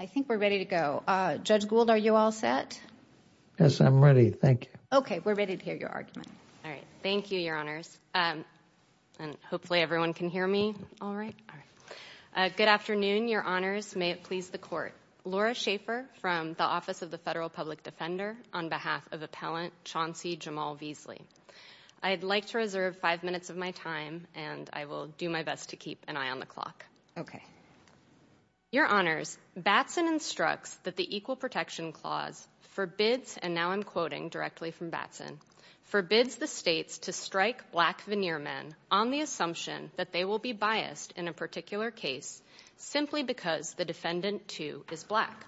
I think we're ready to go. Judge Gould, are you all set? Yes, I'm ready. Thank you. Okay, we're ready to hear your argument. All right. Thank you, Your Honors, and hopefully everyone can hear me all right. Good afternoon, Your Honors. May it please the Court. Laura Schaffer from the Office of the Federal Public Defender on behalf of Appellant Chauncey Jamal Veasley. I'd like to reserve five minutes of my time and I will do my best to keep an eye on the clock. Okay. Your Honors, Batson instructs that the Equal Protection Clause forbids, and now I'm quoting directly from Batson, forbids the states to strike black veneer men on the assumption that they will be biased in a particular case simply because the defendant, too, is black.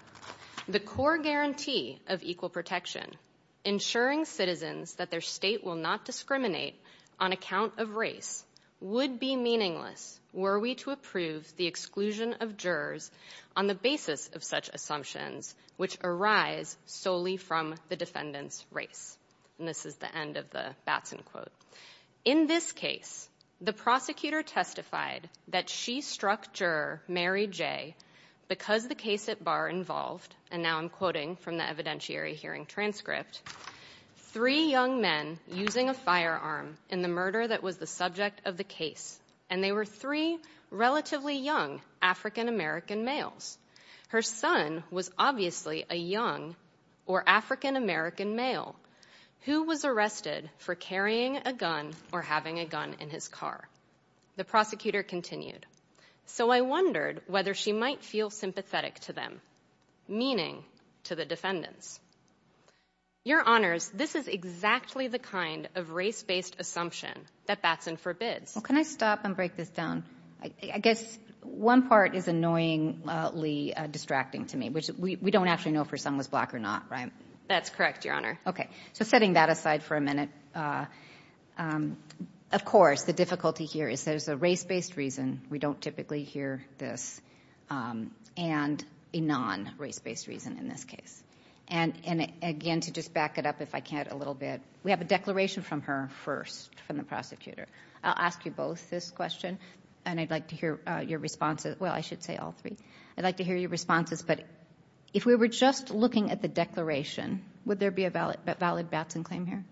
The core guarantee of equal protection, ensuring citizens that their state will not discriminate on account of race, would be meaningless were we to approve the exclusion of jurors on the basis of such assumptions which arise solely from the defendant's race. And this is the end of the Batson quote. In this case, the prosecutor testified that she struck juror Mary J. because the case at bar involved, and now I'm quoting from the evidentiary hearing transcript, three young men using a firearm in the murder that was the subject of the case, and they were three relatively young African-American males. Her son was obviously a young or African-American male who was arrested for carrying a gun or having a gun in his car. The prosecutor continued. So I wondered whether she might feel sympathetic to them, meaning to the defendants. Your question is exactly the kind of race-based assumption that Batson forbids. Can I stop and break this down? I guess one part is annoyingly distracting to me, which we don't actually know if her son was black or not, right? That's correct, Your Honor. Okay. So setting that aside for a minute, of course, the difficulty here is there's a race-based reason. We don't typically hear this. And a non-race-based reason in this case. And again, to just back it up, if I can, a little bit, we have a declaration from her first, from the prosecutor. I'll ask you both this question, and I'd like to hear your responses. Well, I should say all three. I'd like to hear your responses, but if we were just looking at the declaration, would there be a valid Batson claim here?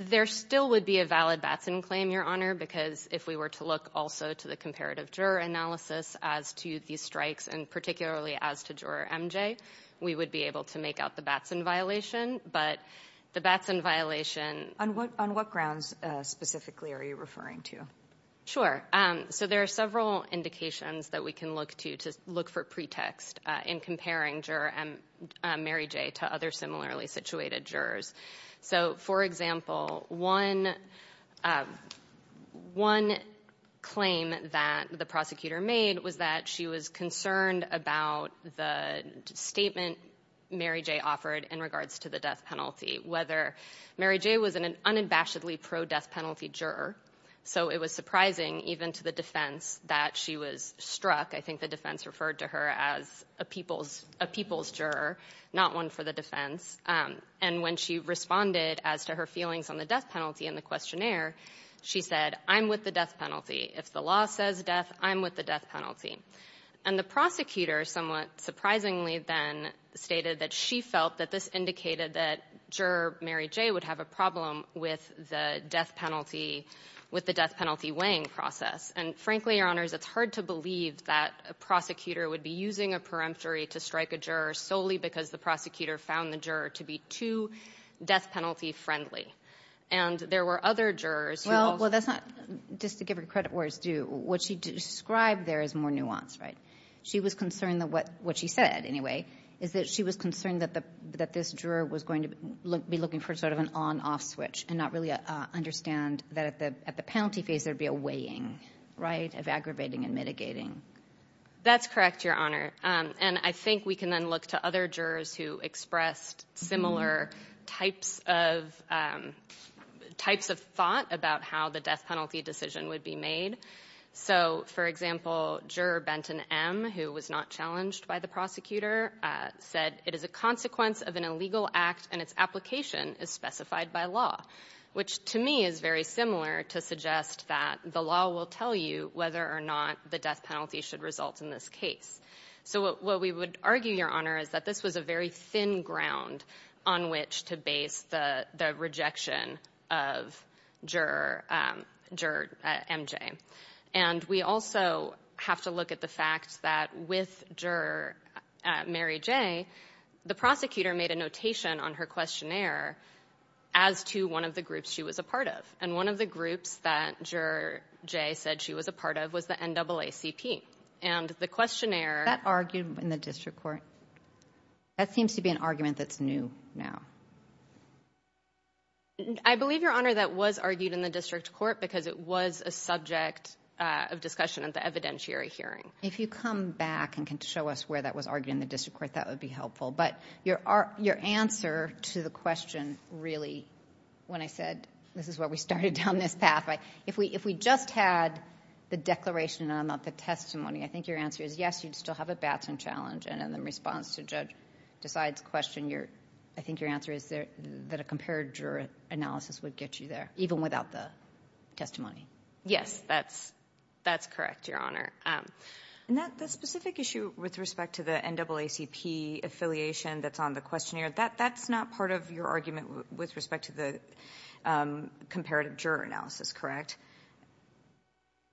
There still would be a valid Batson claim, Your Honor, because if we were to look also to the comparative juror analysis as to these strikes, and particularly as to Juror MJ, we would be able to make out the Batson violation. But the Batson violation... On what grounds, specifically, are you referring to? Sure. So there are several indications that we can look to, to look for pretext in comparing Juror Mary J. to other similarly situated jurors. So, for example, one claim that the prosecutor made was that she was concerned about the statement Mary J. offered in regards to the death penalty. Whether Mary J. was an unabashedly pro-death penalty juror, so it was surprising even to the defense that she was struck. I think the defense referred to her as a people's juror, not one for the defense. And when she responded as to her feelings on the death penalty in the questionnaire, she said, I'm with the death penalty. If the law says death, I'm with the death penalty. And the prosecutor, somewhat surprisingly then, stated that she felt that this indicated that Juror Mary J. would have a problem with the death penalty, with the death penalty weighing process. And frankly, Your Honors, it's hard to believe that a prosecutor would be using a peremptory to strike a juror solely because the prosecutor found the juror to be too death penalty friendly. And there were other jurors who also... Well, that's not... Just to give her credit where it's due, what she described there is more nuanced, right? She was concerned that what she said, anyway, is that she was concerned that this juror was going to be looking for sort of an on-off switch and not really understand that at the penalty phase there would be a weighing, right, of aggravating and mitigating. That's correct, Your Honor. And I think we can then look to other jurors who expressed similar types of... Types of thought about how the death penalty decision would be made. So, for example, Juror Benton M., who was not challenged by the prosecutor, said, it is a consequence of an illegal act and its application is specified by law, which to me is very similar to suggest that the law will tell you whether or not the death penalty should result in this case. So what we would argue, Your Honor, is that this was a very thin ground on which to base the rejection of Juror MJ. And we also have to look at the fact that with Juror Mary J., the prosecutor made a notation on her questionnaire as to one of the groups she was a part of. And one of the groups that Juror J. said she was a part of was the NAACP. And the questionnaire... That argued in the district court? That seems to be an argument that's new now. I believe, Your Honor, that was argued in the district court because it was a subject of discussion at the evidentiary hearing. If you come back and can show us where that was argued in the district court, that would be helpful. But your answer to the question really, when I said this is where we started down this path, if we just had the declaration and not the testimony, I think your answer is yes, you'd still have a Batson challenge. And in response to Judge Desai's question, I think your answer is that a compared juror analysis would get you there, even without the testimony. Yes, that's correct, Your Honor. And that specific issue with respect to the NAACP affiliation that's on the questionnaire, that's not part of your argument with respect to the comparative juror analysis, correct?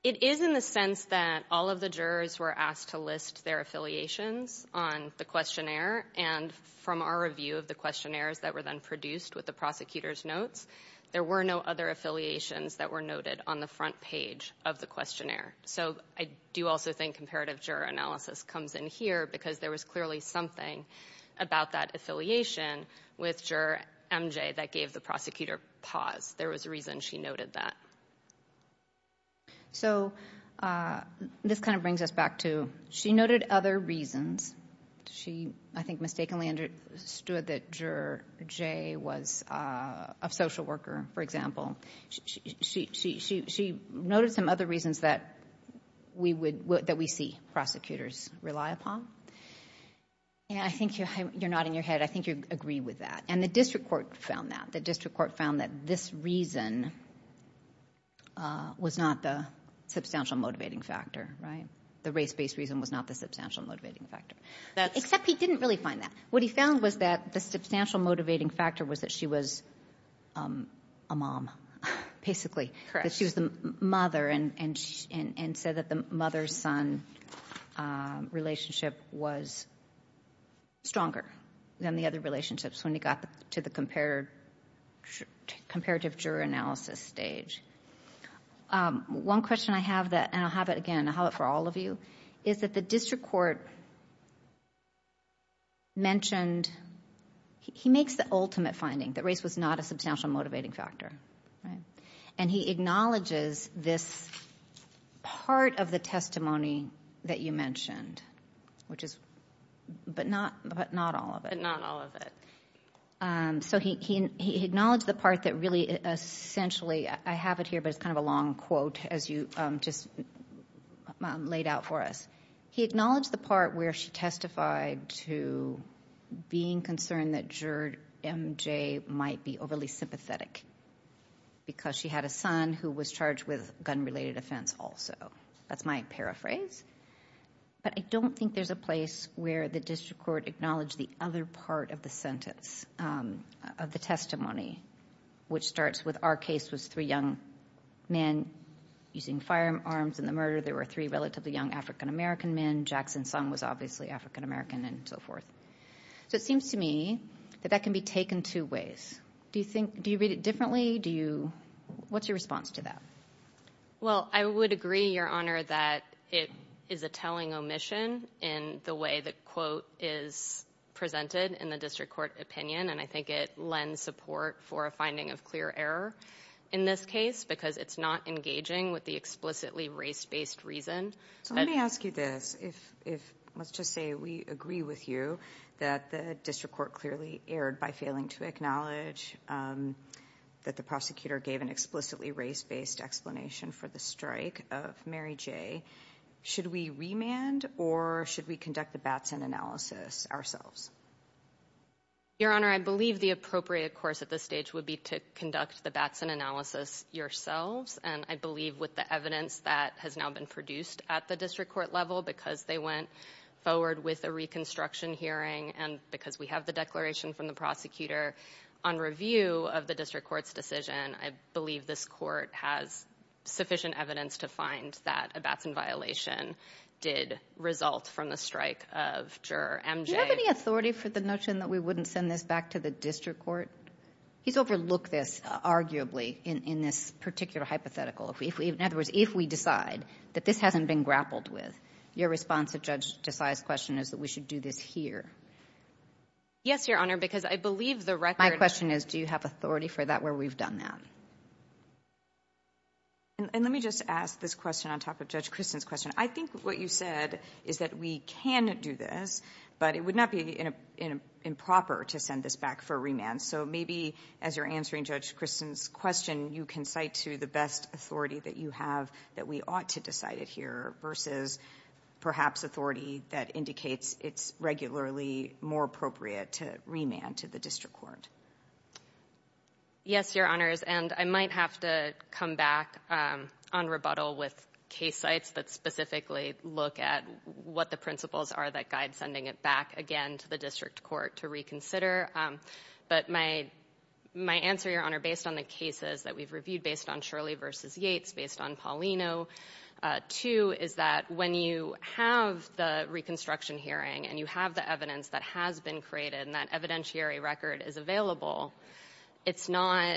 It is in the sense that all of the jurors were asked to list their affiliations on the questionnaire. And from our review of the questionnaires that were then produced with the prosecutor's notes, there were no other affiliations that were noted on the front page of the questionnaire. So I do also think comparative juror analysis comes in here, because there was clearly something about that affiliation with Juror MJ that gave the prosecutor pause. There was a reason she noted that. So this kind of brings us back to, she noted other reasons. She, I think, mistakenly understood that Juror J was a social worker, for example. She noted some other reasons that we see prosecutors rely upon. I think you're nodding your head. I think you agree with that. And the district court found that. The district court found that this reason was not the substantial motivating factor, right? The race-based reason was not the substantial motivating factor. Except he didn't really find that. What he found was that the substantial motivating factor was that she was a mom, basically. Correct. She was the mother and said that the mother-son relationship was stronger than the other relationships when it got to the comparative juror analysis stage. One question I have, and I'll have it again, I'll have it for all of you, is that the district court mentioned, he makes the ultimate finding that race was not a substantial motivating factor. And he acknowledges this part of the testimony that you mentioned, but not all of it. But not all of it. So he acknowledged the part that really essentially, I have it here, but it's kind of a long quote as you just laid out for us. He acknowledged the part where she testified to being concerned that juror MJ might be overly sympathetic because she had a son who was charged with gun-related offense also. That's my paraphrase. But I don't think there's a place where the district court acknowledged the other part of the sentence, of the testimony, which starts with our case was three young men using firearms in the murder. There were three relatively young African-American men. Jackson Sung was obviously African-American and so forth. So it seems to me that that can be taken two ways. Do you read it differently? What's your response to that? Well, I would agree, Your Honor, that it is a telling omission in the way the quote is presented in the district court opinion. And I think it lends support for a finding of clear error in this case because it's not engaging with the explicitly race-based reason. So let me ask you this. Let's just say we agree with you that the district court clearly erred by failing to acknowledge that the prosecutor gave an explicitly race-based explanation for the strike of Mary J. Should we remand or should we conduct the Batson analysis ourselves? Your Honor, I believe the appropriate course at this stage would be to conduct the Batson analysis yourselves. And I believe with the evidence that has now been produced at the district court level because they went forward with a reconstruction hearing and because we have the declaration from the prosecutor on review of the district court's decision, I believe this court has sufficient evidence to find that a Batson violation did result from the strike of juror MJ. Do you have any authority for the notion that we wouldn't send this back to the district court? He's overlooked this arguably in this particular hypothetical. In other words, if we decide that this hasn't been grappled with, your response to Judge Desai's question is that we should do this here. Yes, Your Honor, because I believe the record... My question is, do you have authority for that where we've done that? And let me just ask this question on top of Judge Kristen's question. I think what you said is that we can do this, but it would not be improper to send this back for remand. So maybe as you're answering Judge Kristen's question, you can cite to the best authority that you have that we ought to decide it here versus perhaps authority that indicates it's regularly more appropriate to remand to the district court. Yes, Your Honors, and I might have to come back on rebuttal with case sites that specifically look at what the principles are that guide sending it back, again, to the district court to reconsider. But my answer, Your Honor, based on the cases that we've reviewed based on Shirley v. Yates, based on Paulino, too, is that when you have the reconstruction hearing and you have the evidence that has been created and that evidentiary record is available, it's not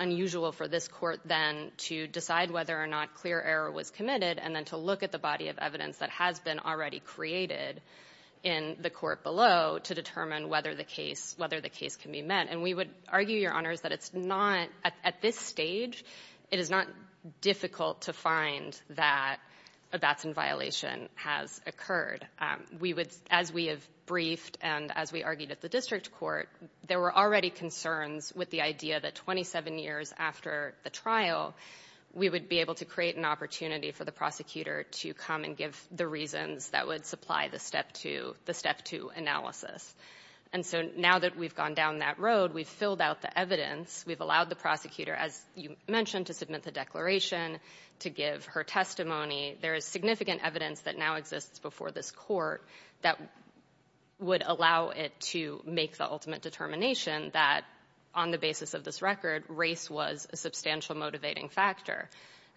unusual for this court then to decide whether or not clear error was committed and then to look at the body of evidence that has been already created in the court below to determine whether the case can be met. And we would argue, Your Honors, that it's not, at this stage, it is not difficult to find that a batson violation has occurred. As we have briefed and as we argued at the district court, there were already concerns with the idea that 27 years after the trial, we would be able to create an opportunity for the prosecutor to come and give the reasons that would supply the step two analysis. And so now that we've gone down that road, we've filled out the evidence, we've allowed the prosecutor, as you mentioned, to submit the declaration, to give her testimony. There is significant evidence that now exists before this court that would allow it to make the ultimate determination that on the basis of this record, race was a substantial motivating factor.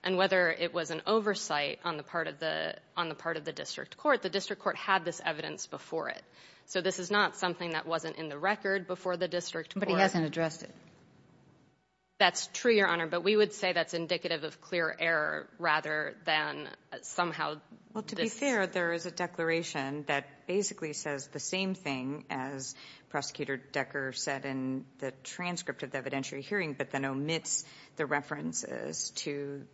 And whether it was an oversight on the part of the district court, the district court had this evidence before it. So this is not something that wasn't in the record before the district court. But he hasn't addressed it. That's true, Your Honor, but we would say that's indicative of clear error rather than somehow... Well, to be fair, there is a declaration that basically says the same thing as Prosecutor Decker said in the transcript of the evidentiary hearing, but then omits the references to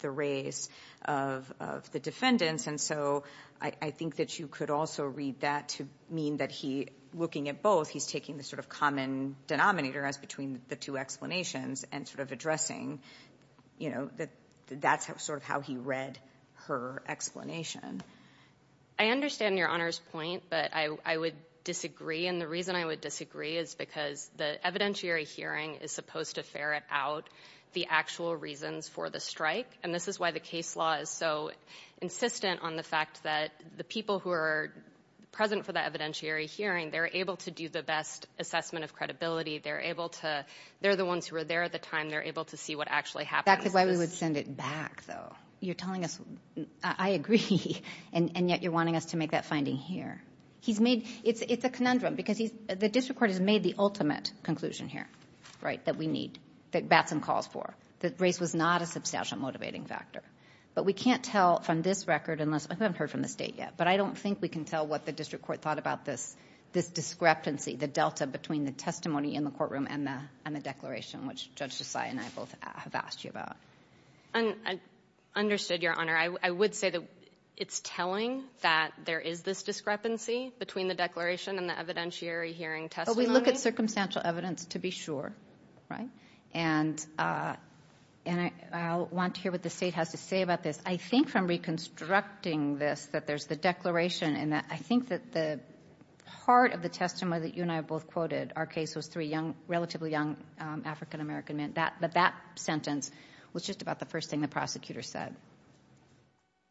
the race of the defendants. And so I think that you could also read that to mean that he, looking at both, he's taking the sort of common denominator as between the two explanations and sort of addressing, you know, that that's sort of how he read her explanation. I understand Your Honor's point, but I would disagree. And the reason I would disagree is because the evidentiary hearing is supposed to ferret out the actual reasons for the strike. And this is why the case law is so insistent on the fact that the people who are present for the evidentiary hearing, they're able to do the best assessment of credibility. They're able to, they're the ones who were there at the time, they're able to see what actually happened. That's why we would send it back, though. You're telling us, I agree, and yet you're wanting us to make that finding here. He's made, it's a conundrum because the district court has made the ultimate conclusion here, right, that we need, that Batson calls for, that race was not a substantial motivating factor. But we can't tell from this record unless, I haven't heard from the state yet, but I don't think we can tell what the district court thought about this, this discrepancy, the delta between the testimony in the courtroom and the declaration, which Judge Josiah and I both have asked you about. I understood, Your Honor. I would say that it's telling that there is this discrepancy between the declaration and the evidentiary hearing testimony. We look at circumstantial evidence to be sure, right? And I want to hear what the state has to say about this. I think from reconstructing this, that there's the declaration and I think that the part of the testimony that you and I have both quoted, our case was three young, relatively young African-American men. That sentence was just about the first thing the prosecutor said.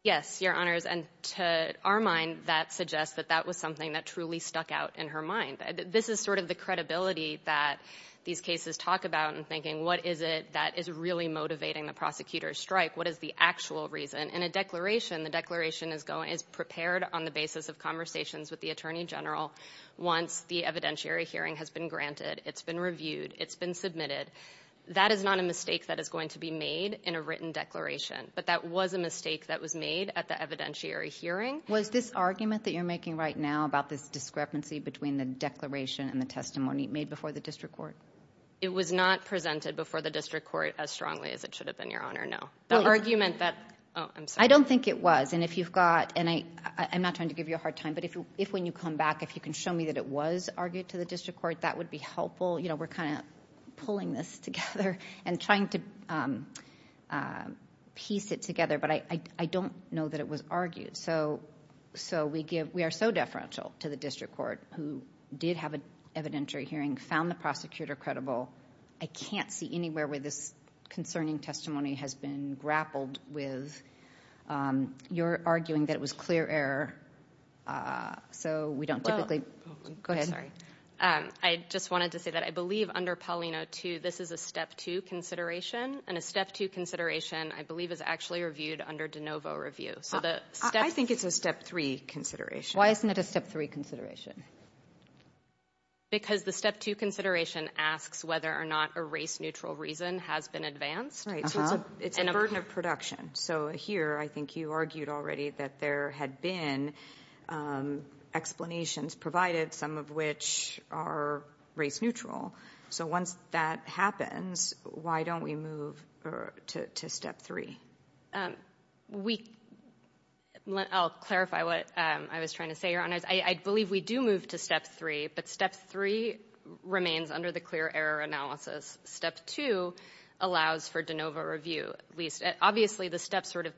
Yes, Your Honors. And to our mind, that suggests that that was something that truly stuck out in her mind. This is sort of the credibility that these cases talk about in thinking, what is it that is really motivating the prosecutor's strike? What is the actual reason? In a declaration, the declaration is prepared on the basis of conversations with the Attorney General once the evidentiary hearing has been granted, it's been reviewed, it's been submitted, that is not a mistake that is going to be made in a written declaration, but that was a mistake that was made at the evidentiary hearing. Was this argument that you're making right now about this discrepancy between the declaration and the testimony made before the district court? It was not presented before the district court as strongly as it should have been, Your Honor, no. The argument that... I don't think it was, and if you've got, and I'm not trying to give you a hard time, but if when you come back, if you can show me that it was argued to the district court, that would be helpful. You know, we're kind of pulling this together and trying to piece it together, but I don't know that it was argued. We are so deferential to the district court who did have an evidentiary hearing, found the prosecutor credible. I can't see anywhere where this concerning testimony has been grappled with. You're arguing that it was clear error, so we don't typically... Go ahead. I'm sorry. I just wanted to say that I believe under Paulino 2, this is a Step 2 consideration, and a Step 2 consideration, I believe, is actually reviewed under De Novo Review. I think it's a Step 3 consideration. Why isn't it a Step 3 consideration? Because the Step 2 consideration asks whether or not a race-neutral reason has been advanced. Right, so it's a burden of production. So here, I think you argued already that had been explanations provided, some of which are race-neutral. So once that happens, why don't we move to Step 3? I'll clarify what I was trying to say, Your Honors. I believe we do move to Step 3, but Step 3 remains under the clear error analysis. Step 2 allows for De Novo Review. Obviously, the steps sort of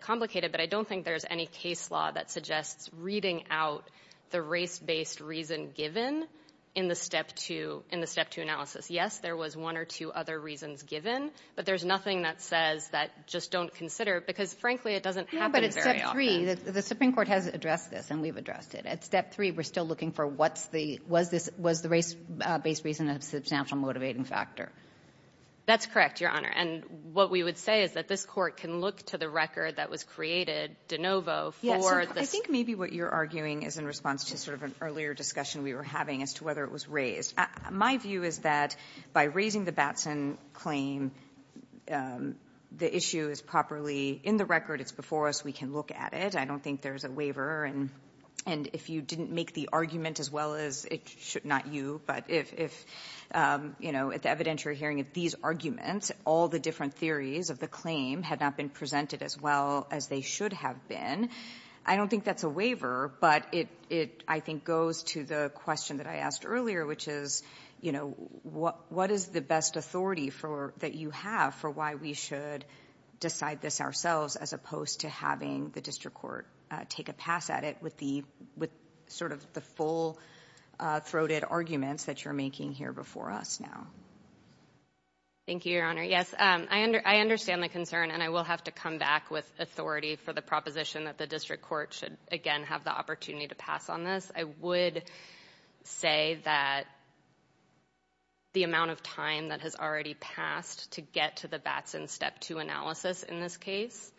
complicated, but I don't think there's any case law that suggests reading out the race-based reason given in the Step 2 analysis. Yes, there was one or two other reasons given, but there's nothing that says that just don't consider, because frankly, it doesn't happen very often. No, but at Step 3, the Supreme Court has addressed this, and we've addressed it. At Step 3, we're still looking for what's the... Was the race-based reason a substantial motivating factor? That's correct, Your Honor, and what we would say is that this court can look to the record that was created, De Novo, for... Yes, I think maybe what you're arguing is in response to sort of an earlier discussion we were having as to whether it was raised. My view is that by raising the Batson claim, the issue is properly in the record. It's before us. We can look at it. I don't think there's a waiver, and if you didn't make the argument as well as it should, not you, but if, you know, at the evidentiary hearing of these arguments, all the different theories of the claim had not been presented as well as they should have been, I don't think that's a waiver, but it, I think, goes to the question that I asked earlier, which is, you know, what is the best authority that you have for why we should decide this ourselves as opposed to having the district court take a pass at it with the... with sort of the full-throated arguments that you're making here before us now? Thank you, Your Honor. Yes, I understand the concern, and I will have to come back with authority for the proposition that the district court should again have the opportunity to pass on this. I would say that the amount of time that has already passed to get to the Batson Step 2 analysis in this case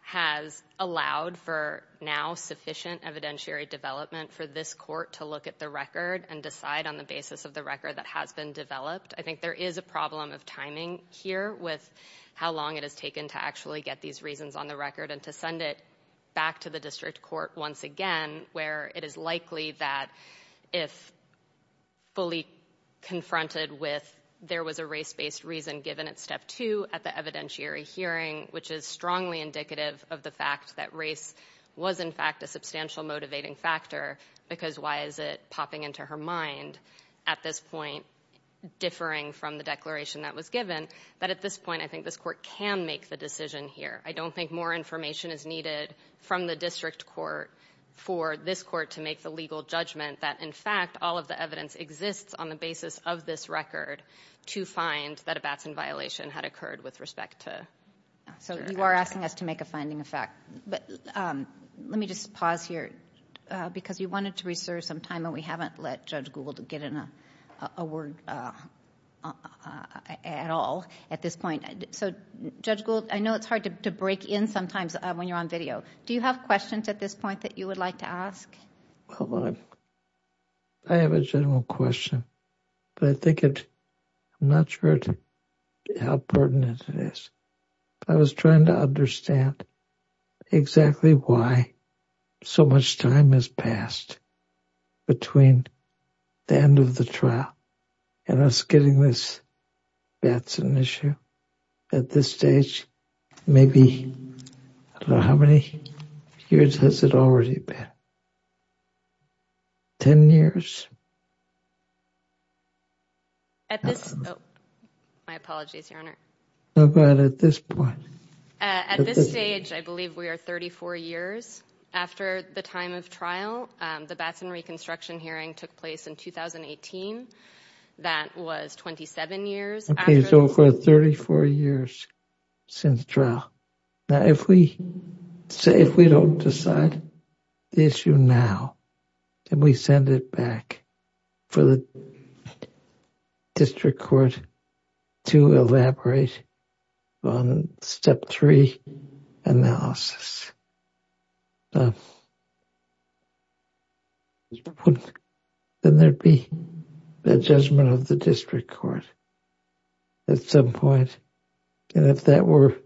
has allowed for now sufficient evidentiary development for this court to look at the record and decide on the basis of the record that has been developed. I think there is a problem of timing here with how long it has taken to actually get these reasons on the record and to send it back to the district court once again, where it is likely that if fully confronted with there was a race-based reason given at Step 2 at the evidentiary hearing, which is strongly indicative of the fact that race was, in fact, a substantial motivating factor, because why is it popping into her mind at this point differing from the declaration that was given, that at this point I think this court can make the decision here. I don't think more information is needed from the district court for this court to make the legal judgment that, in fact, all of the evidence exists on the basis of this record to find that a Batson violation had occurred with respect to... So you are asking us to make a finding effect, but let me just pause here because you wanted to reserve some time and we haven't let Judge Gould get in a word at all at this point. So, Judge Gould, I know it's hard to break in sometimes when you're on video. Do you have questions at this point that you would like to ask? Well, I have a general question, but I think it, I'm not sure how pertinent it is. I was trying to understand exactly why so much time has passed between the end of the trial and us getting this Batson issue. At this stage, maybe, I don't know, how many years has it already been? Ten years? At this, oh, my apologies, Your Honor. How about at this point? At this stage, I believe we are 34 years after the time of trial. The Batson reconstruction hearing took place in 2018. That was 27 years after... Okay, so for 34 years since trial. Now, if we don't decide the issue now, then we send it back for the district court to elaborate on step three analysis. Then there'd be a judgment of the district court at some point, and if that were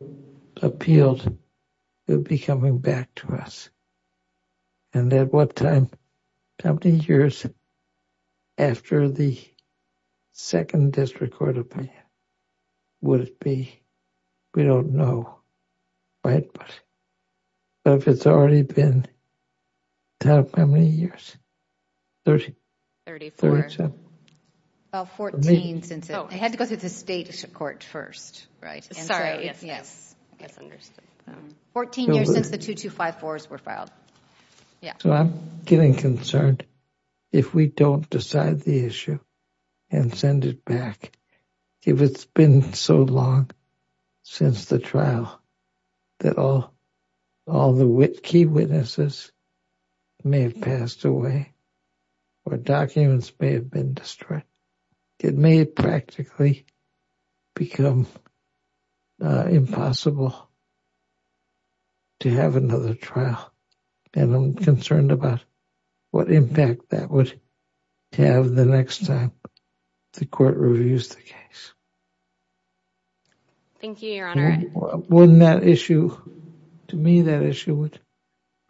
20 years after the second district court opinion, would it be, we don't know, right? But if it's already been, how many years? Thirty. Thirty-four. Thirty-seven. About 14 since it, I had to go through the state court first, right? Sorry, yes, yes. I guess I understood. Fourteen years since the 2254s were filed. Yeah. I'm getting concerned if we don't decide the issue and send it back, if it's been so long since the trial that all the key witnesses may have passed away or documents may have been destroyed. It may practically become impossible to have another trial, and I'm concerned about what impact that would have the next time the court reviews the case. Thank you, Your Honor. Wouldn't that issue, to me, that issue would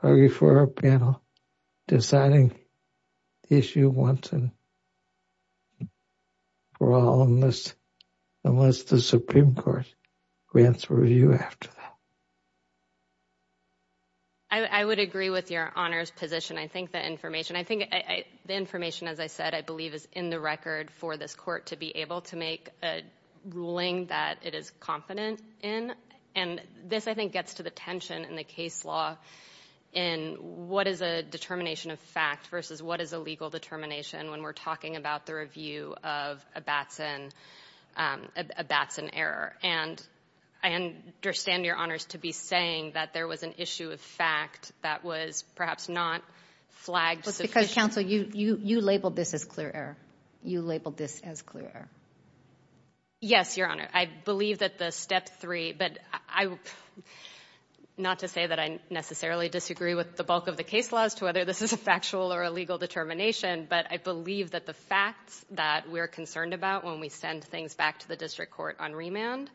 argue for our panel deciding the issue once and for all unless the Supreme Court grants a review after that. I would agree with Your Honor's position. I think the information, as I said, I believe is in the record for this court to be able to make a ruling that it is confident in, and this, I think, gets to the tension in the case law in what is a determination of fact versus what is a legal determination when we're talking about the review of a Batson error. And I understand, Your Honor, to be saying that there was an issue of fact that was perhaps not flagged sufficiently. But because, counsel, you labeled this as clear error. You labeled this as clear error. Yes, Your Honor. I believe that the step three, but not to say that I necessarily disagree with the bulk of the case laws to whether this is a factual or a legal determination, but I believe that the facts that we're concerned about when we send things back to the district court on remand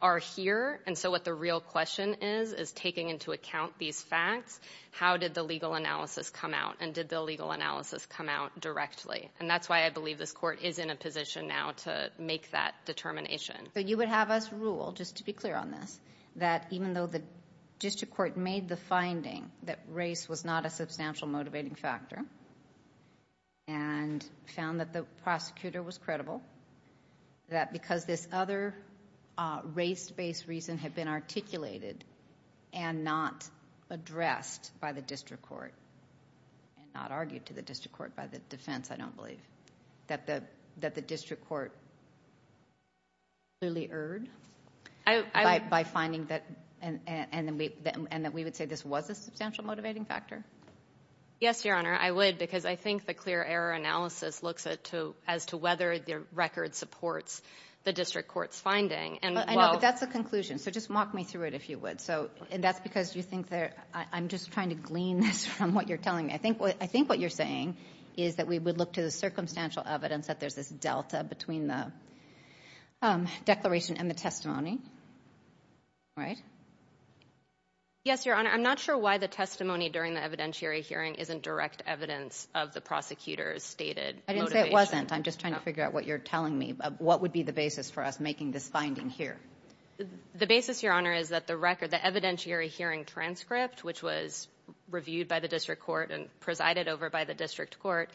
are here. And so what the real question is, is taking into account these facts, how did the legal analysis come out, and did the legal analysis come out directly? And that's why I believe this court is in a position now to make that determination. But you would have us rule, just to be clear on this, that even though the district court made the finding that race was not a substantial motivating factor and found that the prosecutor was credible, that because this other race-based reason had been articulated and not addressed by the district court and not argued to the district court by the defense, I don't believe, that the district court clearly erred by finding that, and that we would say this was a substantial motivating factor. Yes, Your Honor. I would, because I think the clear error analysis looks as to whether the record supports the district court's finding. I know, but that's the conclusion, so just walk me through it if you would. And that's because you think that, I'm just trying to glean this from what you're telling me. I think what you're saying is that we would look to the circumstantial evidence that there's this delta between the declaration and the testimony, right? Yes, Your Honor. I'm not sure why the testimony during the evidentiary hearing isn't direct evidence of the prosecutor's stated motivation. I didn't say it wasn't. I'm just trying to figure out what you're telling me. What would be the basis for us making this finding here? The basis, Your Honor, is that the record, the evidentiary hearing transcript, which was reviewed by the district court and presided over by the district court,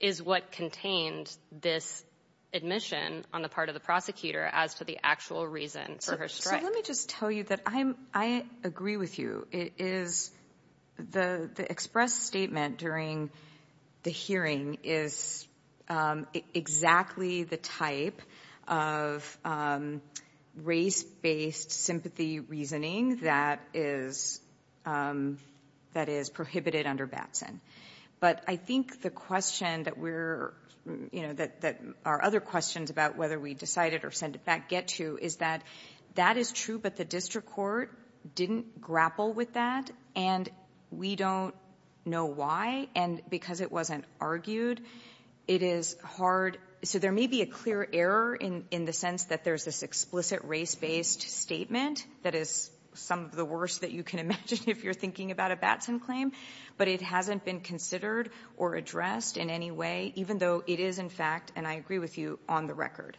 is what contained this admission on the part of the prosecutor as to the actual reason for her strike. So let me just tell you that I agree with you. The expressed statement during the hearing is exactly the type of race-based sympathy reasoning that is prohibited under Batson. But I think the question that our other questions about whether we decided or sent it back get to is that that is true, but the district court didn't grapple with that, and we don't know why. And because it wasn't argued, it is hard. So there may be a clear error in the sense that there's this explicit race-based statement that is some of the worst that you can imagine if you're thinking about a Batson claim, but it hasn't been considered or addressed in any way, even though it is, in fact, and I agree with you, on the record.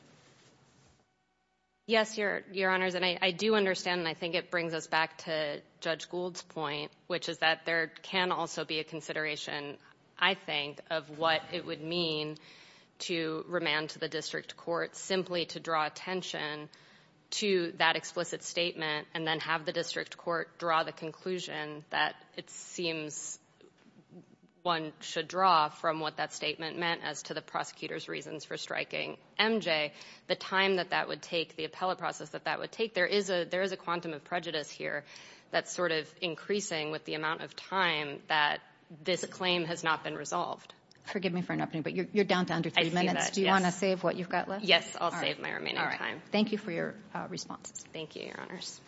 Yes, Your Honors, and I do understand, and I think it brings us back to Judge Gould's point, which is that there can also be a consideration, I think, of what it would mean to remand to the district court simply to draw attention to that explicit statement and then have the district court draw the conclusion that it seems one should draw from what that statement meant as to the prosecutor's reasons for striking MJ. The time that that would take, the appellate process that would take, there is a quantum of prejudice here that's sort of increasing with the amount of time that this claim has not been resolved. Forgive me for interrupting, but you're down to under three minutes. Do you want to save what you've got left? Yes, I'll save my remaining time. Thank you for your response. Thank you, Your Honors.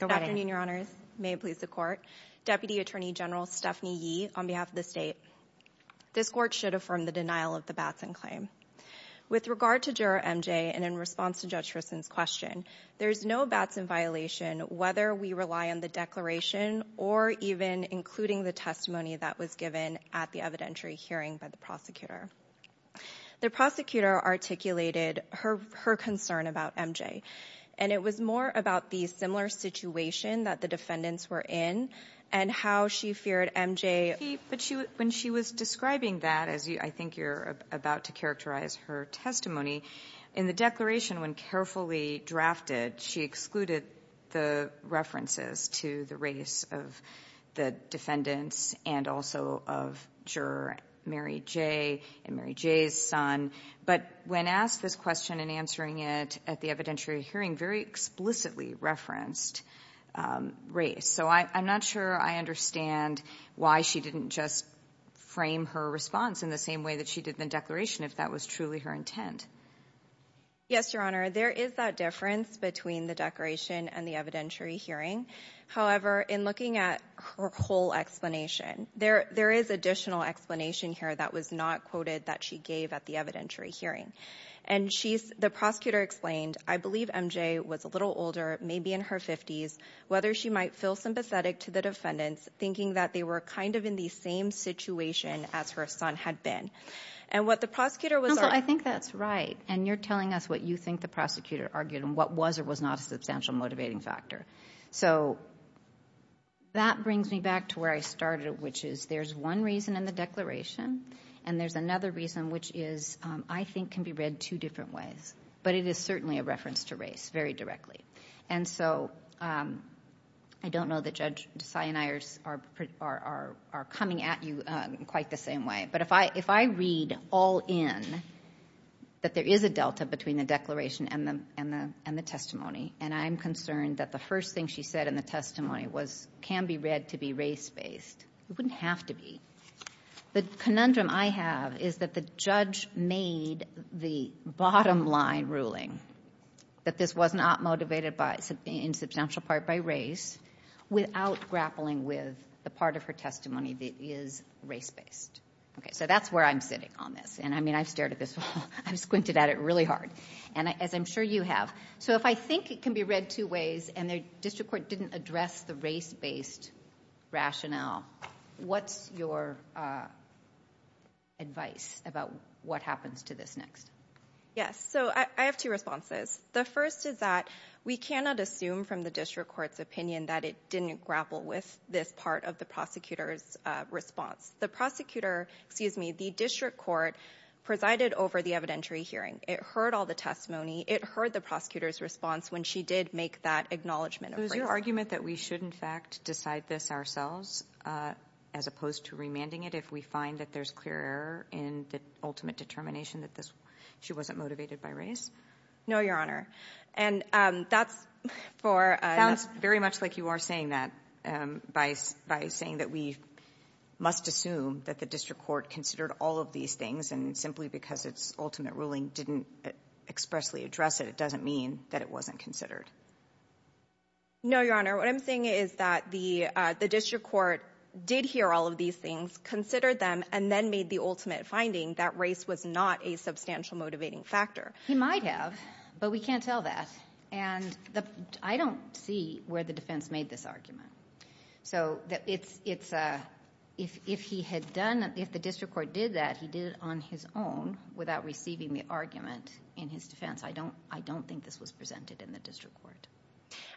Good afternoon, Your Honors. May it please the court. Deputy Attorney General Stephanie Yee, on behalf of the state. This court should affirm the denial of the Batson claim. With regard to Juror MJ, and in response to Judge Christen's question, there is no Batson violation, whether we rely on the declaration or even including the testimony that was given at the evidentiary hearing by the prosecutor. The prosecutor articulated her concern about MJ, and it was more about the similar situation that the defendants were in and how she feared MJ. But when she was describing that, as I think you're about to characterize her testimony, in the declaration, when carefully drafted, she excluded the references to the race of the defendants and also of Juror Mary J. and Mary J.'s son. But when asked this question and answering it at the evidentiary hearing, very explicitly referenced race. So I'm not sure I understand why she didn't just frame her response in the same way that she did in the declaration, if that was truly her intent. Yes, Your Honor. There is that difference between the declaration and the evidentiary hearing. However, in looking at her whole explanation, there is additional explanation here that was not quoted that she gave at the evidentiary hearing. And the prosecutor explained, I believe MJ was a little older, maybe in her 50s, whether she might feel sympathetic to the defendants, thinking that they were kind of in the same situation as her son had been. And what the prosecutor was... Counsel, I think that's right. And you're telling us what you think the prosecutor argued and what was or was not a substantial motivating factor. So that brings me back to where I started, which is there's one reason in the declaration, and there's another reason which is, I think, can be read two different ways. But it is certainly a reference to race, very directly. And so I don't know that Judge Desai and I are coming at you in quite the same way. But if I read all in that there is a delta between the declaration and the testimony, and I'm concerned that the first thing she said in the testimony can be read to be race-based, it wouldn't have to be. The conundrum I have is that the judge made the bottom line ruling that this was not motivated in substantial part by race without grappling with the part of her testimony that is race-based. So that's where I'm sitting on this. And I've stared at this wall. I've squinted at it really hard, as I'm sure you have. So if I think it can be read two ways, and the district court didn't address the race-based rationale, what's your advice about what happens to this next? Yes. So I have two responses. The first is that we cannot assume from the district court's opinion that it didn't grapple with this part of the prosecutor's response. The prosecutor, excuse me, the district court presided over the evidentiary hearing. It heard all the testimony. It heard the prosecutor's response when she did make that acknowledgement. Was your argument that we should, in fact, decide this ourselves as opposed to remanding it if we find that there's clear error in the ultimate determination that she wasn't motivated by race? No, Your Honor. And that's for... Sounds very much like you are saying that by saying that we must assume that the district court considered all of these things. And simply because its ultimate ruling didn't expressly address it, it doesn't mean that it wasn't considered. No, Your Honor. What I'm saying is that the district court did hear all of these things, considered them, and then made the ultimate finding that race was not a substantial motivating factor. He might have, but we can't tell that. And I don't see where the defense made this argument. So if he had done, if the district court did that, he did it on his own without receiving the argument in his defense. I don't think this was presented in the district court.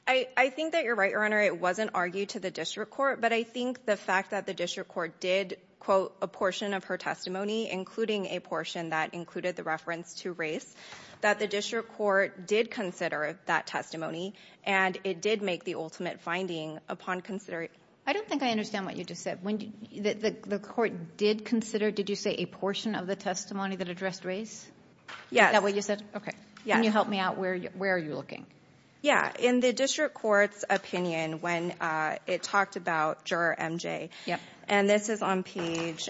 I think that you're right, Your Honor. It wasn't argued to the district court, but I think the fact that the district court did quote a portion of her testimony, including a portion that included the reference to race, that the district court did consider that testimony, and it did make the ultimate finding upon considering... I don't think I understand what you just said. The court did consider, did you say a portion of the testimony that addressed race? Yes. Is that what you said? Okay. Can you help me out? Where are you looking? Yeah. In the district court's opinion, when it talked about juror MJ, and this is on page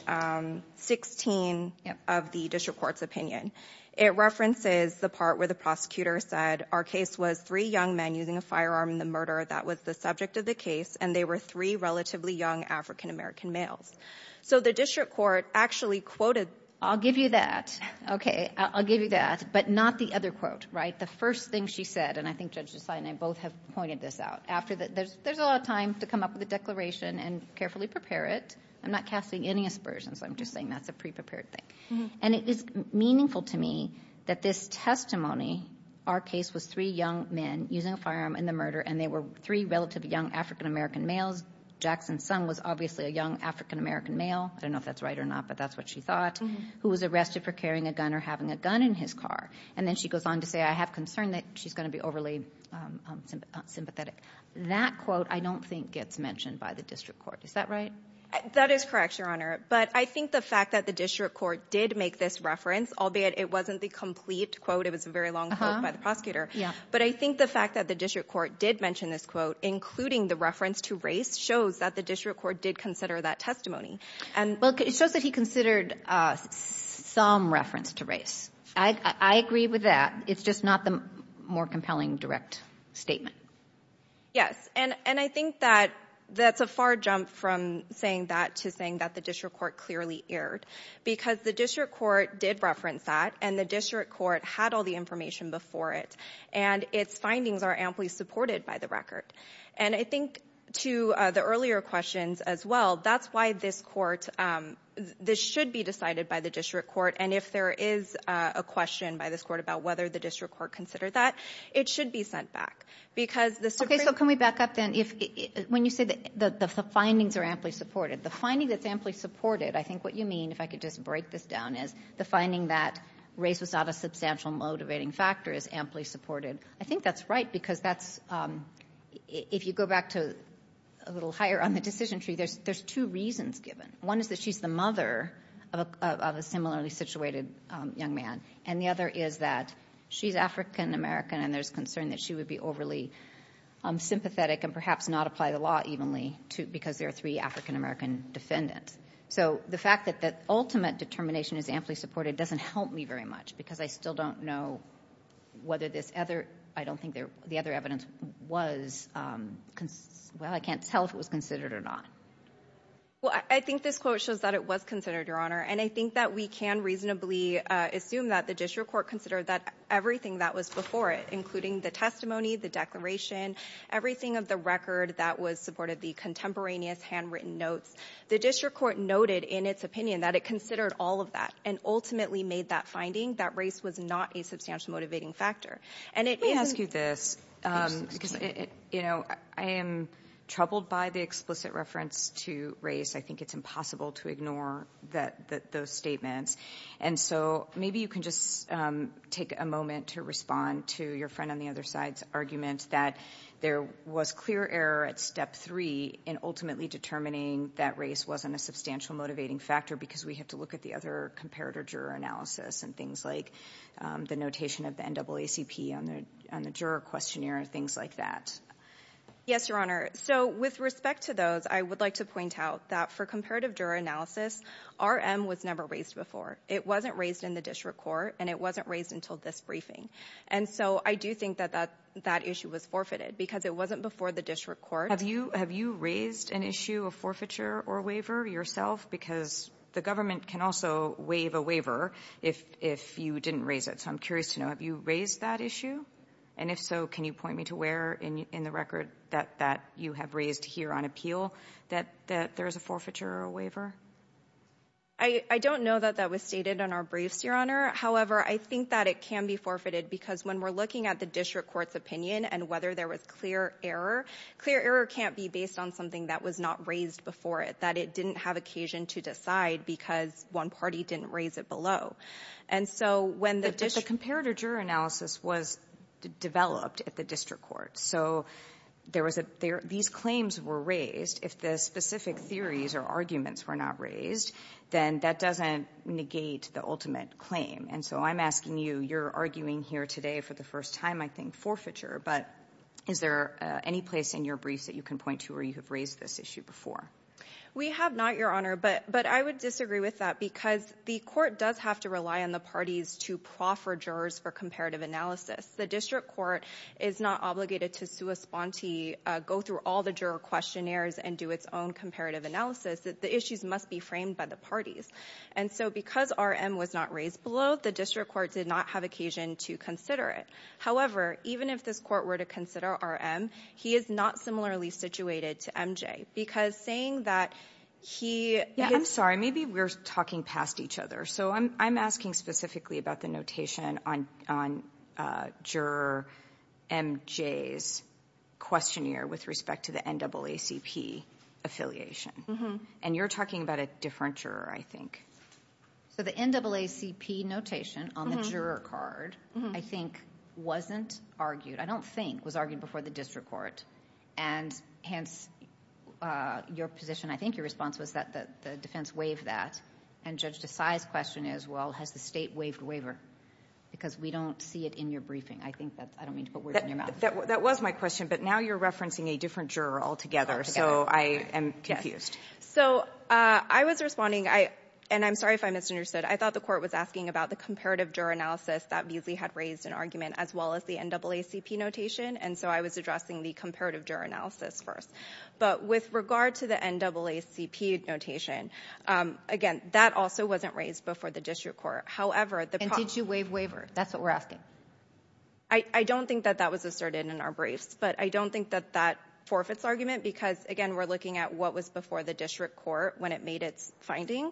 16 of the district court's opinion, it references the part where the prosecutor said, our case was three young men using a firearm in the murder. That was the subject of the case, and they were three relatively young African-American males. So the district court actually quoted... I'll give you that. Okay. I'll give you that, but not the other quote, right? The first thing she said, and I think Judge Desai and I both have pointed this out, there's a lot of time to come up with a declaration and carefully prepare it. I'm not casting any aspersions. I'm just saying that's a pre-prepared thing. And it is meaningful to me that this testimony, our case was three young men using a firearm in the murder, and they were three relatively young African-American males. Jackson's son was obviously a young African-American male. I don't know if that's right or not, but that's what she thought, who was arrested for carrying a gun or having a gun in his car. And then she goes on to say, I have concern that she's going to be overly sympathetic. That quote, I don't think gets mentioned by the district court. Is that right? That is correct, Your Honor. But I think the fact that the district court did make this reference, albeit it wasn't the complete quote, it was a very long quote by the prosecutor. But I think the fact that the district court did mention this quote, including the reference to race, shows that the district court did consider that testimony. Well, it shows that he considered some reference to race. I agree with that. It's just not the more compelling direct statement. Yes. And I think that that's a far jump from saying that to saying that the district court clearly erred. Because the district court did reference that, and the district court had all the information before it. And its findings are amply supported by the record. And I think to the earlier questions as well, that's why this court, this should be decided by the district court. And if there is a question by this court about whether the district court considered that, it should be sent back. Okay, so can we back up then? When you say that the findings are amply supported, the finding that's amply supported, I think what you mean, if I could just break this down, is the finding that race was not a substantial motivating factor is amply supported. I think that's right, because if you go back to a little higher on the decision tree, there's two reasons given. One is that she's the mother of a similarly situated young man. And the other is that she's African American, and there's concern that she would be overly sympathetic and perhaps not apply the law evenly, because there are three African American defendants. So the fact that the ultimate determination is amply supported doesn't help me very much, because I still don't know whether this other, I don't think the other evidence was, well, I can't tell if it was considered or not. Well, I think this quote shows that it was considered, Your Honor, and I think that we can reasonably assume that the district court considered that everything that was before it, including the testimony, the declaration, everything of the record that was supported, the contemporaneous handwritten notes, the district court noted in its opinion that it considered all of that and ultimately made that finding that race was not a substantial motivating factor. And it isn't... Let me ask you this, because I am troubled by the explicit reference to race. I think it's impossible to ignore those statements. And so maybe you can just take a moment to respond to your friend on the other side's argument that there was clear error at step three in ultimately determining that race wasn't a substantial motivating factor because we have to look at the other comparator juror analysis and things like the notation of the NAACP on the juror questionnaire and things like that. Yes, Your Honor. So with respect to those, I would like to point out that for comparative juror analysis, RM was never raised before. It wasn't raised in the district court and it wasn't raised until this briefing. And so I do think that that issue was because it wasn't before the district court. Have you raised an issue of forfeiture or waiver yourself? Because the government can also waive a waiver if you didn't raise it. So I'm curious to know, have you raised that issue? And if so, can you point me to where in the record that you have raised here on appeal that there is a forfeiture or waiver? I don't know that that was stated on our briefs, Your Honor. However, I think that it can be forfeited because when we're looking at district court's opinion and whether there was clear error, clear error can't be based on something that was not raised before it, that it didn't have occasion to decide because one party didn't raise it below. But the comparative juror analysis was developed at the district court. So these claims were raised. If the specific theories or arguments were not raised, then that doesn't negate the ultimate claim. And so I'm asking you, you're arguing here today for the first time, I think, forfeiture. But is there any place in your briefs that you can point to where you have raised this issue before? We have not, Your Honor. But I would disagree with that because the court does have to rely on the parties to proffer jurors for comparative analysis. The district court is not obligated to sui sponte, go through all the juror questionnaires and do its own comparative analysis. The issues must be framed by the parties. And so because RM was not raised below, the district court did not have occasion to consider it. However, even if this court were to consider RM, he is not similarly situated to MJ. Because saying that he... Yeah, I'm sorry. Maybe we're talking past each other. So I'm asking specifically about the notation on juror MJ's questionnaire with respect to the NAACP affiliation. And you're talking about different juror, I think. So the NAACP notation on the juror card, I think, wasn't argued. I don't think it was argued before the district court. And hence, your position, I think your response was that the defense waived that. And Judge Desai's question is, well, has the state waived waiver? Because we don't see it in your briefing. I think that... I don't mean to put words in your mouth. That was my question. But now you're referencing a different juror altogether. So I am confused. So I was responding. And I'm sorry if I misunderstood. I thought the court was asking about the comparative juror analysis that Beazley had raised in argument, as well as the NAACP notation. And so I was addressing the comparative juror analysis first. But with regard to the NAACP notation, again, that also wasn't raised before the district court. However, the... And did you waive waiver? That's what we're asking. I don't think that that was asserted in our briefs. But I don't think that that forfeits argument. Because again, we're looking at what was before the district court when it made its finding.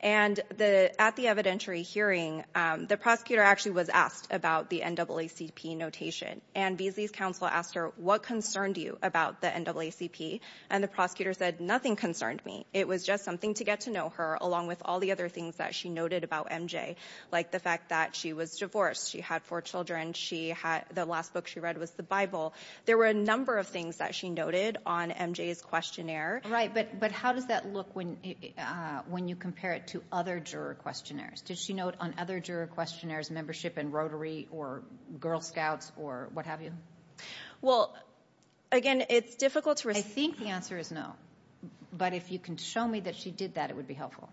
And at the evidentiary hearing, the prosecutor actually was asked about the NAACP notation. And Beazley's counsel asked her, what concerned you about the NAACP? And the prosecutor said, nothing concerned me. It was just something to get to know her, along with all the other things that she noted about MJ. Like the fact that she was divorced. She had four children. The last book she read was the Bible. There were a number of things that she noted on MJ's questionnaire. Right. But how does that look when you compare it to other juror questionnaires? Did she note on other juror questionnaires membership in Rotary or Girl Scouts or what have you? Well, again, it's difficult to... I think the answer is no. But if you can show me that she did that, it would be helpful.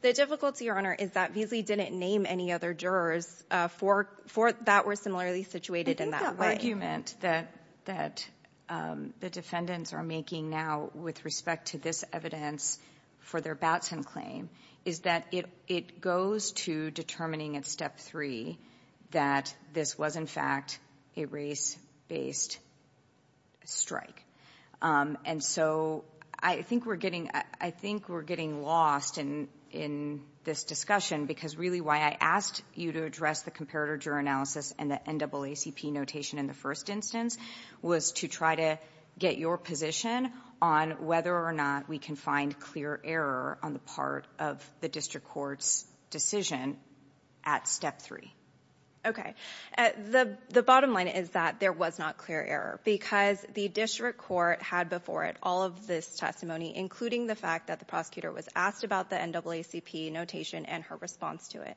The difficulty, Your Honor, is that Beazley didn't name any other jurors for that were similarly situated in that way. I think the argument that the defendants are making now with respect to this evidence for their Batson claim is that it goes to determining at step three that this was in fact a race-based strike. And so I think we're getting lost in this discussion because really why I asked you to address the comparator juror analysis and the NAACP notation in the first instance was to try to get your position on whether or not we can find clear error on the part of the district court's decision at step three. Okay. The bottom line is that there was not clear error because the district court had before it all of this testimony, including the fact that the prosecutor was asked about the NAACP notation and her response to it.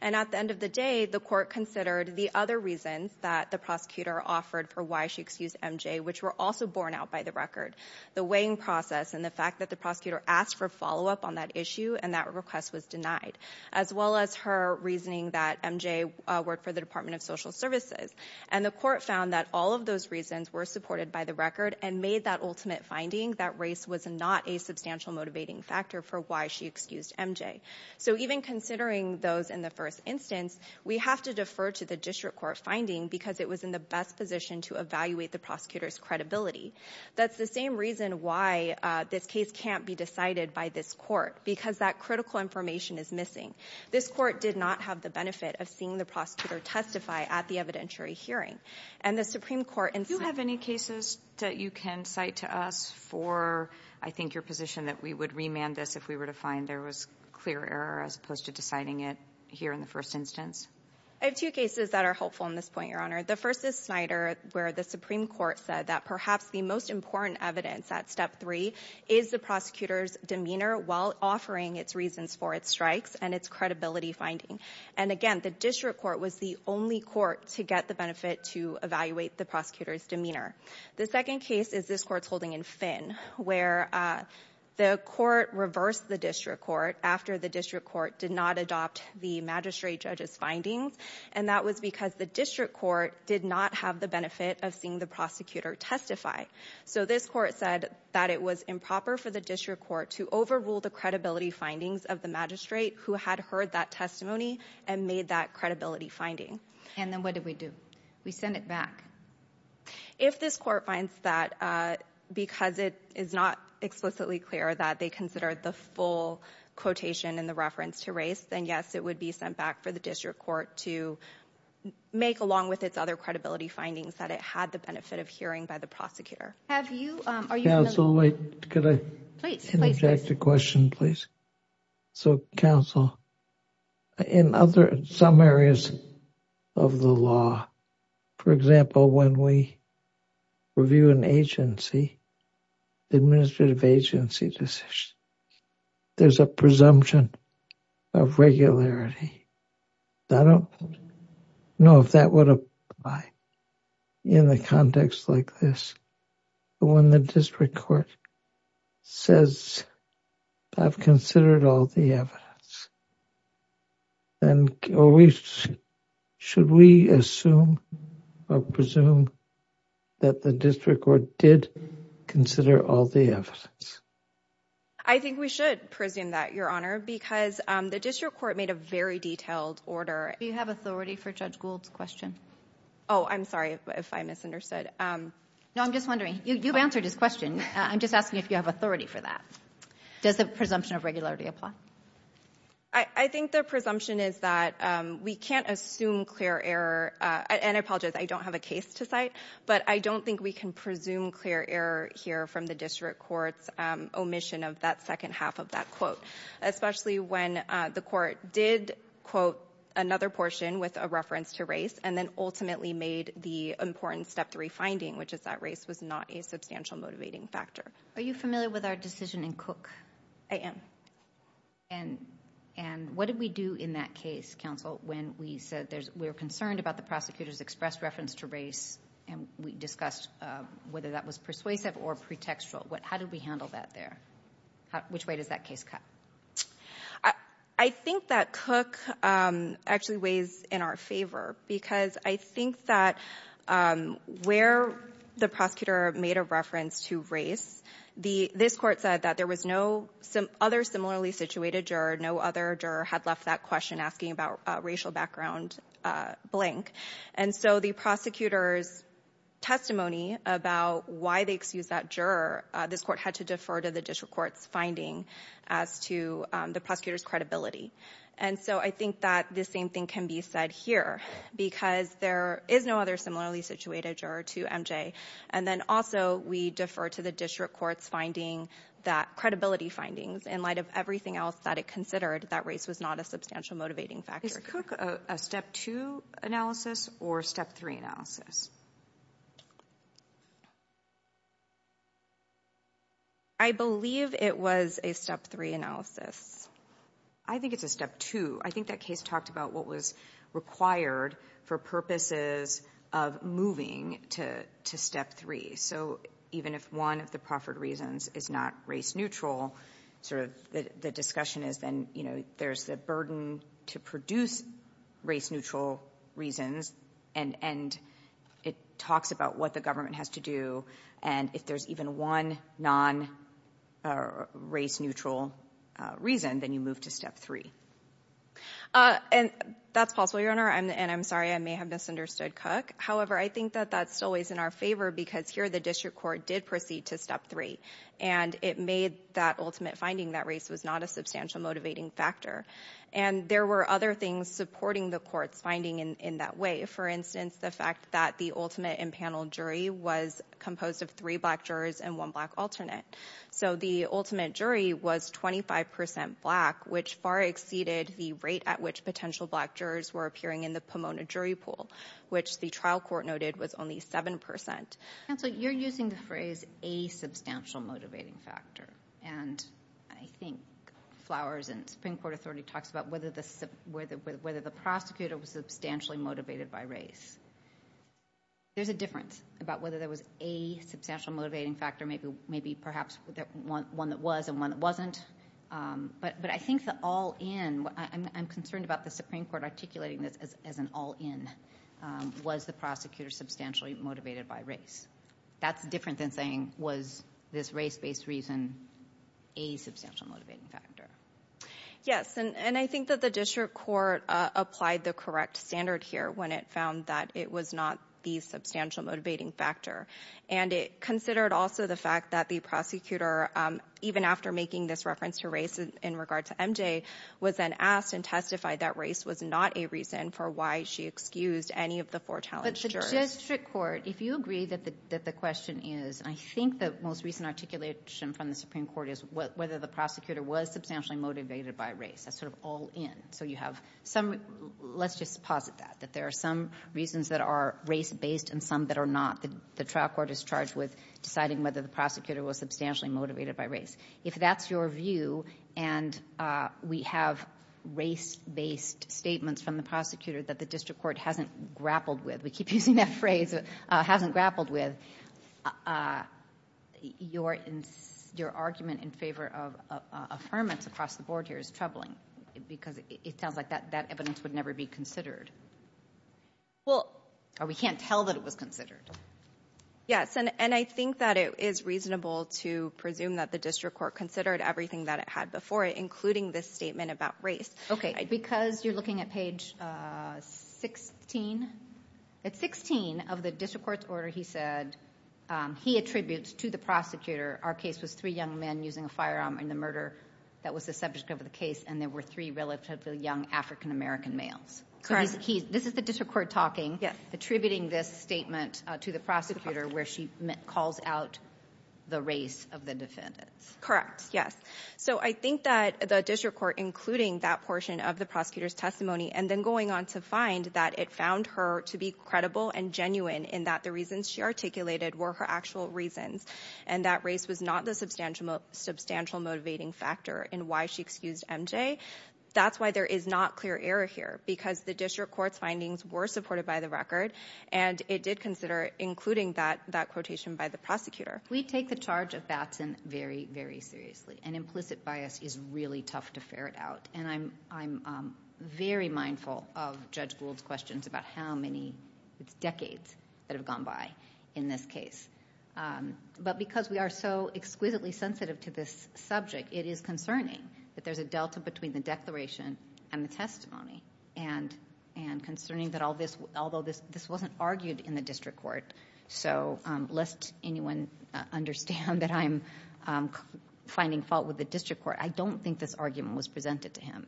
And at the end of the day, the court considered the other reasons that the prosecutor offered for why she excused MJ, which were also borne out by the record, the weighing process and the fact that the prosecutor asked for follow-up on that issue and that request was denied, as well as her reasoning that MJ worked for the Department of Social Services. And the court found that all of those reasons were supported by the record and made that ultimate finding that race was not a substantial motivating factor for why she excused MJ. So even considering those in the first instance, we have to defer to the district court finding because it was in the best position to evaluate the prosecutor's credibility. That's the same reason why this case can't be decided by this court, because that critical information is missing. This court did not have the benefit of seeing the prosecutor testify at the evidentiary hearing. And the Supreme Court... Do you have any cases that you can cite to us for, I think, your position that we would remand this if we were to find there was clear error as opposed to deciding it here in the first instance? I have two cases that are helpful in this point, Your Honor. The first is Snyder, where the Supreme Court said that perhaps the most important evidence at step three is the prosecutor's demeanor while offering its reasons for its strikes and its credibility finding. And again, the district court was the only court to get the benefit to evaluate the prosecutor's demeanor. The second case is this court's holding in Finn, where the court reversed the district court after the district court did not adopt the magistrate judge's findings. And that was because the district court did not have the benefit of seeing the prosecutor testify. So this court said that it was improper for the district court to overrule the credibility findings of the magistrate who had heard that testimony and made that finding. And then what did we do? We sent it back. If this court finds that because it is not explicitly clear that they considered the full quotation in the reference to race, then yes, it would be sent back for the district court to make, along with its other credibility findings, that it had the benefit of hearing by the prosecutor. Have you... Are you... Could I interject a question, please? So, counsel, in other some areas of the law, for example, when we review an agency, the administrative agency decision, there's a presumption of regularity. I don't know if that would apply in the context like this. When the district court says I've considered all the evidence, then should we assume or presume that the district court did consider all the evidence? I think we should presume that, Your Honor, because the district court made a very detailed order. Do you have authority for Judge Gould's question? Oh, I'm sorry if I misunderstood. No, I'm just wondering. You've answered his question. I'm just asking if you have authority for that. Does the presumption of regularity apply? I think the presumption is that we can't assume clear error. And I apologize, I don't have a case to cite, but I don't think we can presume clear error here from the district court's omission of that second half of that quote, especially when the court did quote another portion with a reference to race and then ultimately made the important step three finding, which is that race was not a substantial motivating factor. Are you familiar with our decision in Cook? I am. And what did we do in that case, counsel, when we said we were concerned about the prosecutor's expressed reference to race and we discussed whether that was persuasive or pretextual? How did we handle that there? Which way does that case cut? I think that Cook actually weighs in our favor because I think that where the prosecutor made a reference to race, this court said that there was no other similarly situated juror, no other juror had left that question asking about racial background blank. And so the prosecutor's testimony about why they excused that juror, this court had to defer to the district court's finding as to the prosecutor's credibility. And so I think that the same thing can be said here because there is no other similarly situated juror to MJ. And then also we defer to the district court's finding that credibility findings in light of everything else that it considered that race was not a substantial motivating factor. Is Cook a step two analysis or a step three analysis? I believe it was a step three analysis. I think it's a step two. I think that case talked about what was required for purposes of moving to step three. So even if one of the proffered reasons is not race neutral, sort of the discussion is then, you know, there's a burden to produce race neutral reasons. And it talks about what the government has to do. And if there's even one non-race neutral reason, then you move to step three. And that's possible, Your Honor. And I'm sorry, I may have misunderstood Cook. However, I think that that's always in our favor because here the district court did proceed to step three. And it made that ultimate finding that race was not a substantial motivating factor. And there were other things supporting the court's finding in that way. For instance, the fact that the ultimate impanel jury was composed of three black jurors and one black alternate. So the ultimate jury was 25 percent black, which far exceeded the rate at which potential black jurors were appearing in the Pomona jury pool, which the trial court noted was only 7 percent. Counsel, you're using the phrase a substantial motivating factor. And I think Flowers and Supreme Court authority talks about whether the prosecutor was substantially motivated by race. There's a difference about whether there was a substantial motivating factor, maybe perhaps one that was and one that wasn't. But I think the all in, I'm concerned about the Supreme Court articulating this as an all in. Was the prosecutor substantially motivated by race? That's different than saying, was this race-based reason a substantial motivating factor? Yes. And I think that the district court applied the correct standard here when it found that it was not the substantial motivating factor. And it considered also the fact that the prosecutor, even after making this reference to race in regard to MJ, was then asked and testified that race was not a reason for why she excused any of the four challenged jurors. But the district court, if you agree that the question is, I think the most recent articulation from the Supreme Court is whether the prosecutor was substantially motivated by race. That's sort of all in. So you have some, let's just posit that, that there are some reasons that are race-based and some that are not. The trial court is charged with deciding whether the prosecutor was substantially motivated by race. If that's your view and we have race-based statements from the prosecutor that the district court hasn't grappled with, we keep using that phrase, hasn't grappled with, your argument in favor of affirmance across the board here is troubling because it sounds like that evidence would never be considered. Well, or we can't tell that it was considered. Yes, and I think that it is reasonable to presume that the district court considered everything that it had before it, including this statement about race. Okay, because you're looking at page 16, at 16 of the district court's order, he said, he attributes to the prosecutor, our case was three young men using a firearm in the murder that was the subject of the case, and there were three relatively young African-American males. Correct. So this is the district court talking, attributing this statement to the prosecutor where she calls out the race of the defendants. Correct, yes. So I think that the district court including that portion of the prosecutor's testimony and then going on to find that it found her to be credible and genuine in that the reasons she articulated were her actual reasons and that race was not the substantial motivating factor in why she excused MJ. That's why there is not clear error here, because the district court's findings were supported by the record and it did consider including that quotation by the prosecutor. We take the charge of Batson very, very seriously, and implicit bias is really tough to ferret out, and I'm very mindful of Judge Gould's questions about how many decades that have gone by in this case, but because we are so exquisitely sensitive to this subject, it is concerning that there's a declaration and the testimony, and concerning that although this wasn't argued in the district court, so lest anyone understand that I'm finding fault with the district court, I don't think this argument was presented to him.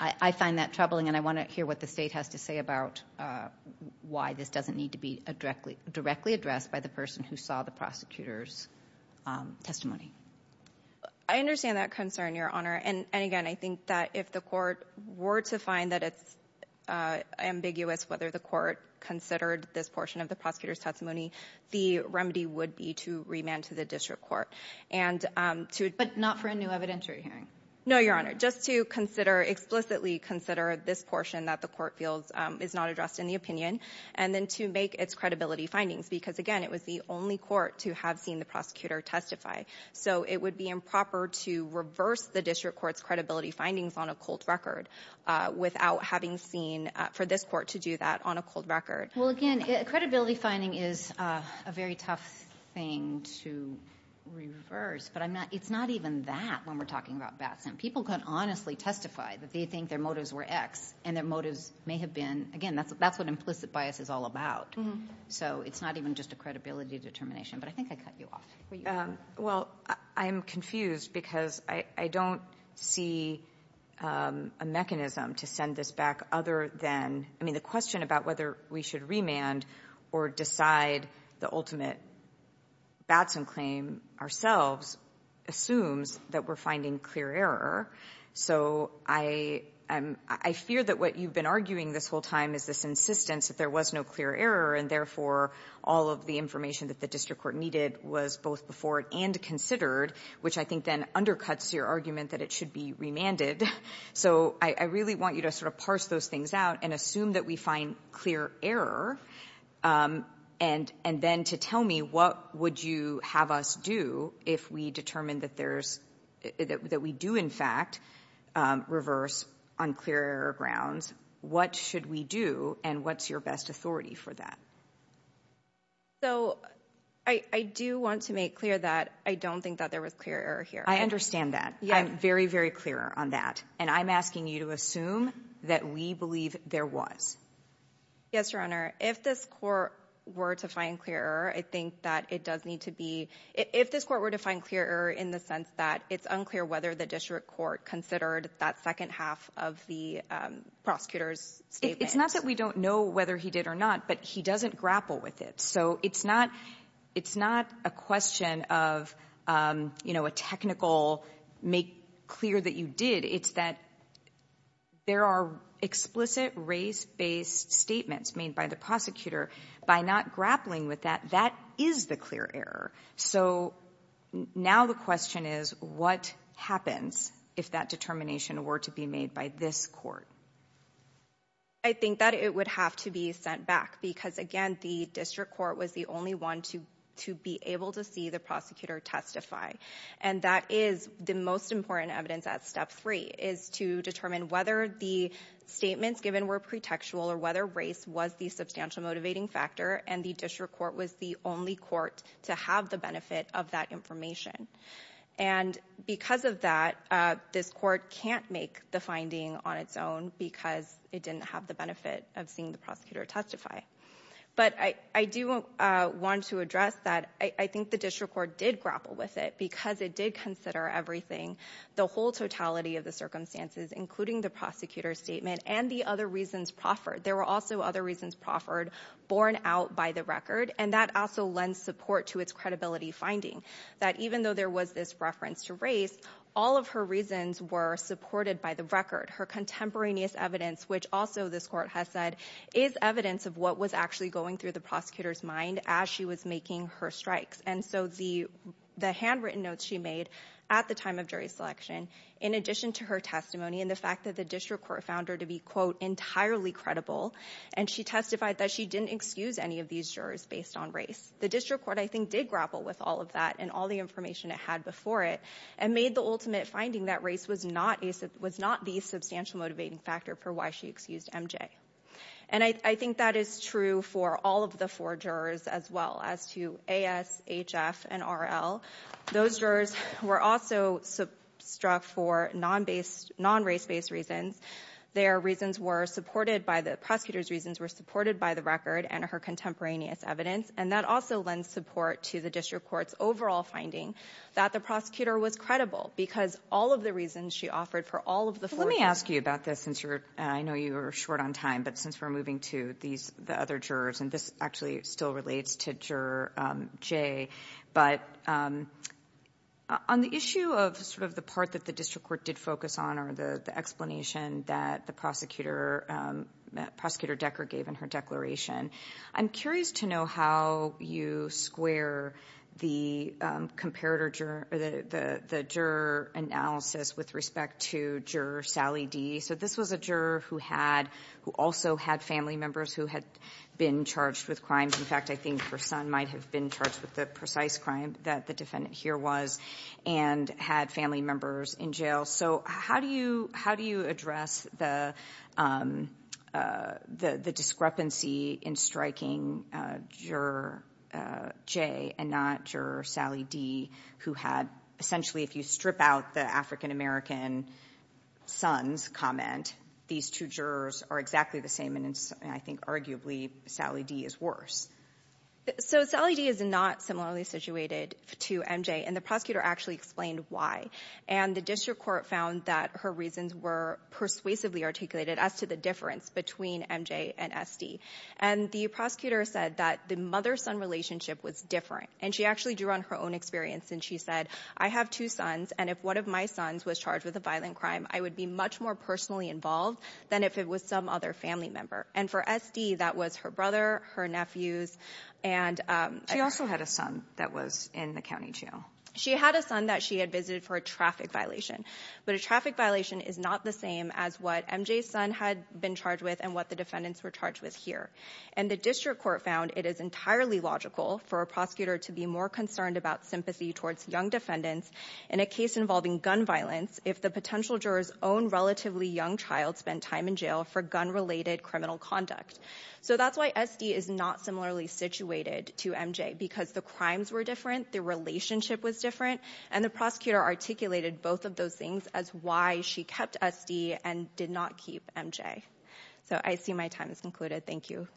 I find that troubling, and I want to hear what the state has to say about why this doesn't need to be directly addressed by the person who saw the prosecutor's testimony. I understand that concern, Your Honor, and again, I think that if the court were to find that it's ambiguous whether the court considered this portion of the prosecutor's testimony, the remedy would be to remand to the district court. But not for a new evidentiary hearing? No, Your Honor, just to explicitly consider this portion that the court feels is not addressed in the opinion, and then to make its credibility findings, because again, it was the only court to have seen the prosecutor testify. So it would be improper to reverse the district court's credibility findings on a cold record without having seen for this court to do that on a cold record. Well again, credibility finding is a very tough thing to reverse, but it's not even that when we're talking about Batson. People can honestly testify that they think their motives were X, and their motives may have been, again, that's what implicit bias is all about. So it's not even just a credibility determination, but I think I cut you off. Well, I'm confused because I don't see a mechanism to send this back other than, I mean, the question about whether we should remand or decide the ultimate Batson claim ourselves assumes that we're finding clear error. So I fear that what you've been arguing this whole time is this insistence that there was no clear error, and therefore all of the information that the district court needed was both before it and considered, which I think then undercuts your argument that it should be remanded. So I really want you to sort of parse those things out and assume that we find clear error, and then to tell me what would you have us do if we determined that there's, that we do, in fact, reverse on clear error grounds, what should we do, and what's your best authority for that? So I do want to make clear that I don't think that there was clear error here. I understand that. I'm very, very clear on that, and I'm asking you to assume that we believe there was. Yes, Your Honor, if this court were to find clear error, I think that it does need to be, if this court were to find clear error in the sense that it's unclear whether the district court considered that second half of the prosecutor's statement. It's not that we don't know whether he did or not, but he doesn't grapple with it. So it's not, it's not a question of, you know, a technical, make clear that you did. It's that there are explicit race-based statements made by the prosecutor. By not grappling with that, that is the clear error. So now the question is, what happens if that determination were to be made by this court? I think that it would have to be sent back because, again, the district court was the only one to to be able to see the prosecutor testify, and that is the most important evidence at step three, is to determine whether the statements given were pretextual or whether race was the substantial motivating factor, and the district court was the only court to have the benefit of that information. And because of that, this court can't make the finding on its own because it didn't have the benefit of seeing the prosecutor testify. But I do want to address that I think the district court did grapple with it because it did consider everything, the whole totality of the circumstances, including the prosecutor's statement and the other reasons proffered. There were also other reasons proffered borne out by the record, and that also lends support to its credibility finding, that even though there was this reference to race, all of her reasons were supported by the record. Her contemporaneous evidence, which also this court has said is evidence of what was actually going through the prosecutor's mind as she was making her strikes, and so the handwritten notes she made at the time of jury selection, in addition to her testimony and the fact that the district court found her to be, quote, entirely credible, and she testified that she didn't excuse any of these jurors based on race. The district court, I think, did grapple with all of that and all the information it had before it and made the ultimate finding that race was not the substantial motivating factor for why she excused MJ. And I think that is true for all of the four jurors as well as to A.S., H.F., and R.L. Those jurors were also struck for non-based, non-race-based reasons. Their reasons were supported by the prosecutor's reasons were supported by the record and her contemporaneous evidence, and that also lends support to the district court's overall finding that the prosecutor was credible because all of the reasons she offered for all of the four jurors. Let me ask you about this since you're, I know you were short on time, but since we're moving to these, the other jurors, and this actually still relates to Juror J, but on the issue of sort of the part that the district court did focus on or the explanation that the prosecutor, Prosecutor Decker, gave in her declaration, I'm curious to know how you square the juror analysis with respect to Juror Sally D. So this was a juror who also had family members who had been charged with crimes. In fact, I think her son might have been charged with the precise crime that the defendant here was and had family members in jail. So how do you address the discrepancy in striking Juror J and not Juror Sally D who had, essentially, if you strip out the African-American son's comment, these two jurors are exactly the same, and I think arguably Sally D is worse. So Sally D is not similarly situated to MJ, and the prosecutor actually explained why, and the district court found that her reasons were persuasively articulated as to the difference between MJ and SD. And the prosecutor said that the mother-son relationship was different, and she actually drew on her own experience, and she said, I have two sons, and if one of my sons was charged with a violent crime, I would be much more personally involved than if it was some other family member. And for SD, that was her brother, her nephews, and she also had a son that was in the county jail. She had a son that she had visited for a traffic violation, but a traffic violation is not the same as what MJ's son had been charged with and what the defendants were charged with here. And the district court found it is entirely logical for a prosecutor to be more concerned about sympathy towards young defendants in a case involving gun violence if the potential juror's own relatively young child spent time in for gun-related criminal conduct. So that's why SD is not similarly situated to MJ, because the crimes were different, the relationship was different, and the prosecutor articulated both of those things as why she kept SD and did not keep MJ. So I see my time is concluded. Thank you.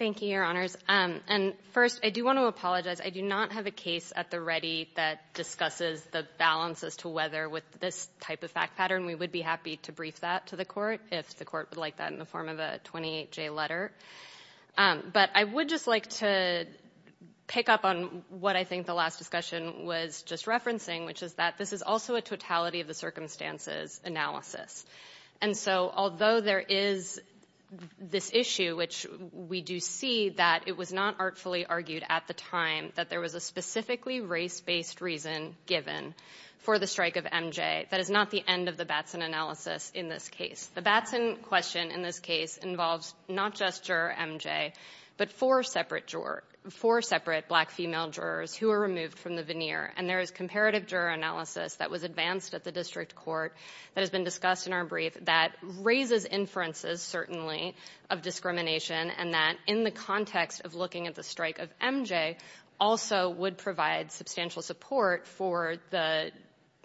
Thank you, Your Honors. And first, I do want to apologize. I do not have a case at the ready that discusses the balance as to whether with this type of fact pattern we would be happy to brief that to the court, if the court would like that in the form of a 28-J letter. But I would just like to pick up on what I think the last discussion was just referencing, which is that this is also a totality of the circumstances analysis. And so although there is this issue, which we do see that it was not artfully argued at the time that there was a specifically race-based reason given for the strike of MJ, that is not the end of the Batson analysis in this case. The Batson question in this case involves not just juror MJ, but four separate black female jurors who were removed from the veneer. And there is comparative juror analysis that was advanced at the district court that has been discussed in our brief that raises inferences, certainly, of discrimination and that in the context of looking at the strike of MJ also would provide substantial support for the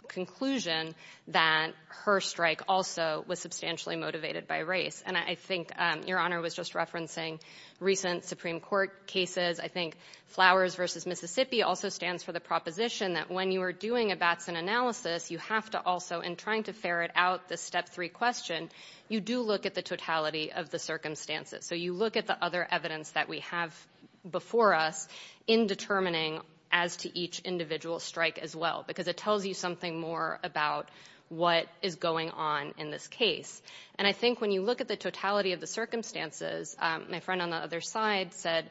conclusion that her strike also was substantially motivated by race. And I think Your Honor was just referencing recent Supreme Court cases. I think Flowers v. Mississippi also stands for the proposition that when you are doing a Batson analysis, you have to also, in trying to ferret out the step three question, you do look at the totality of the circumstances. So you look at the other evidence that we have before us in determining as to each individual strike as well, because it tells you something more about what is going on in this case. And I think when you look at the totality of the circumstances, my friend on the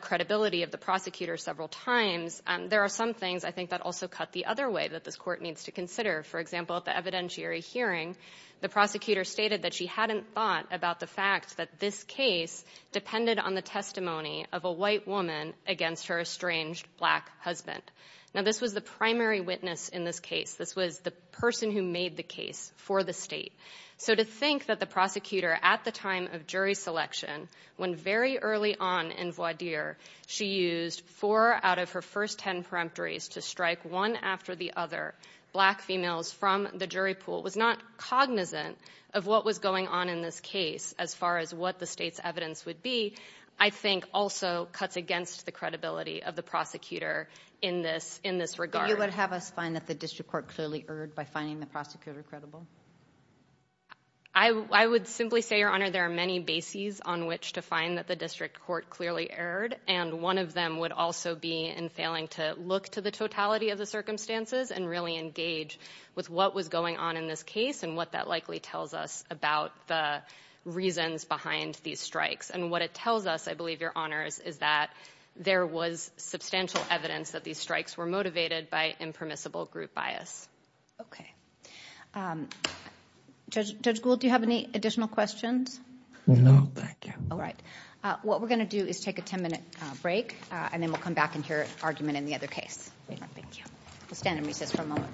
credibility of the prosecutor several times, there are some things I think that also cut the other way that this court needs to consider. For example, at the evidentiary hearing, the prosecutor stated that she hadn't thought about the fact that this case depended on the testimony of a white woman against her estranged black husband. Now, this was the primary witness in this case. This was the person who made the case for the state. So to think that the prosecutor at the time of jury selection, when very early on in voir dire, she used four out of her first ten peremptories to strike one after the other black females from the jury pool, was not cognizant of what was going on in this case as far as what the state's evidence would be, I think also cuts against the credibility of the prosecutor in this regard. You would have us find that the district court clearly erred by finding the prosecutor credible? I would simply say, Your Honor, there are many bases on which to find that the district court clearly erred, and one of them would also be in failing to look to the totality of the circumstances and really engage with what was going on in this case and what that likely tells us about the reasons behind these strikes. And what it tells us, I believe, Your Honors, is that there was substantial evidence that these strikes were motivated by impermissible group bias. Okay. Judge Gould, do you have any additional questions? No, thank you. All right. What we're going to do is take a ten-minute break, and then we'll come back and hear argument in the other case. All right. Thank you. We'll stand and recess for a moment, please.